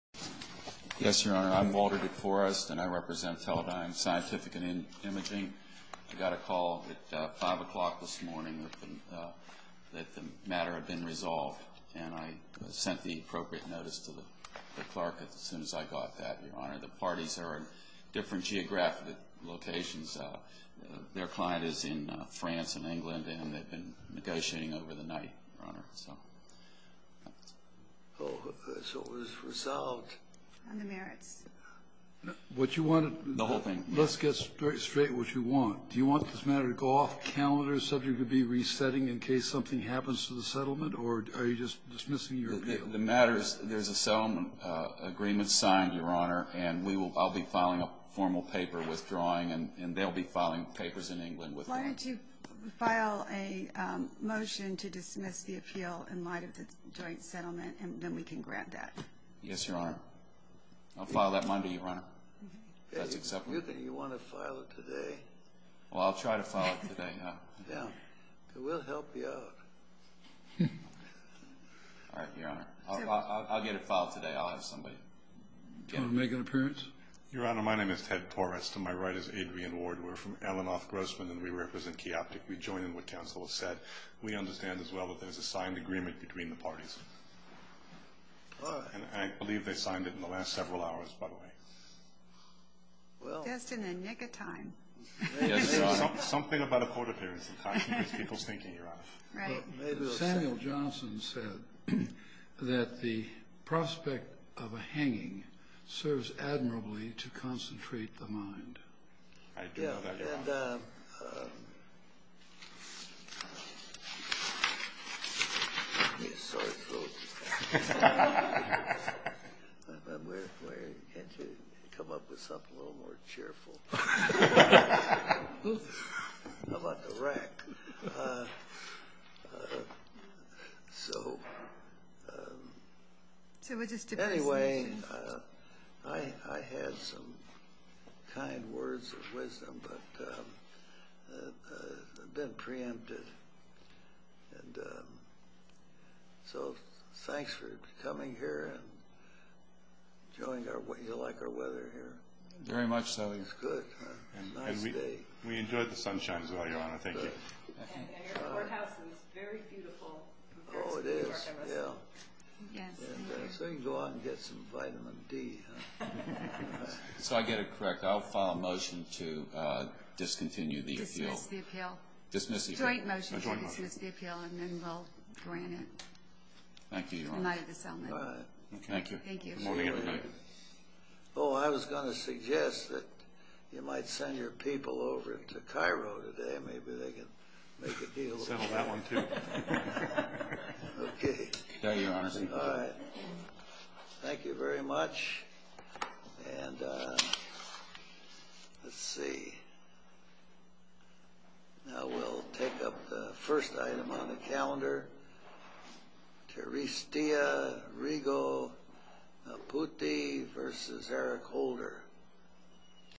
Yes, Your Honor, I'm Walter DeForest and I represent Teledyne Scientific & Imaging. I got a call at 5 o'clock this morning that the matter had been resolved and I sent the appropriate notice to the clerk as soon as I got that, Your Honor. The parties are in different geographic locations. Their client is in France and England and they've been negotiating over the night, Your Honor. Oh, so it was resolved. On the merits. What you wanted... The whole thing. Let's get straight to what you want. Do you want this matter to go off the calendar, subject to be resetting in case something happens to the settlement, or are you just dismissing your appeal? The matter is there's a settlement agreement signed, Your Honor, and I'll be filing a formal paper withdrawing and they'll be filing papers in England with me. Why don't you file a motion to dismiss the appeal in light of the joint settlement and then we can grant that. Yes, Your Honor. I'll file that Monday, Your Honor. That's acceptable. You want to file it today? Well, I'll try to file it today. Yeah. We'll help you out. All right, Your Honor. I'll get it filed today. I'll have somebody... Do you want to make an appearance? Your Honor, my name is Ted Torres. To my right is Adrian Ward. We're from Ellenhoff Grossman and we represent Chaoptic. We join in what counsel has said. We understand as well that there's a signed agreement between the parties, and I believe they signed it in the last several hours, by the way. Just in the nick of time. Yes, Your Honor. Something about a court appearance, in fact, makes people's thinking, Your Honor. Right. Samuel Johnson said that the prospect of a hanging serves admirably to concentrate the mind. I do, Your Honor. Yeah, and... I'm sorry, folks. Can't you come up with something a little more cheerful? I'm on the rack. So... Anyway, I had some kind words of wisdom, but I've been preempted. So thanks for coming here and enjoying our weather. You like our weather here? Very much so. It's good. Nice day. We enjoyed the sunshine as well, Your Honor. Thank you. And your courthouse is very beautiful. Oh, it is. Yeah. So you can go out and get some vitamin D, huh? So I get it correct. I'll file a motion to discontinue the appeal. Dismiss the appeal. Dismiss the appeal. Joint motion. Joint motion. I'll dismiss the appeal, and then we'll grant it. Thank you, Your Honor. The night of the settlement. Thank you. Thank you. Good morning, everybody. Oh, I was going to suggest that you might send your people over to Cairo today. Maybe they can make a deal. Send them that one, too. Okay. Thank you, Your Honor. Thank you. All right. Thank you very much. And let's see. Now we'll take up the first item on the calendar. Teresita Rigo Apute versus Eric Holder.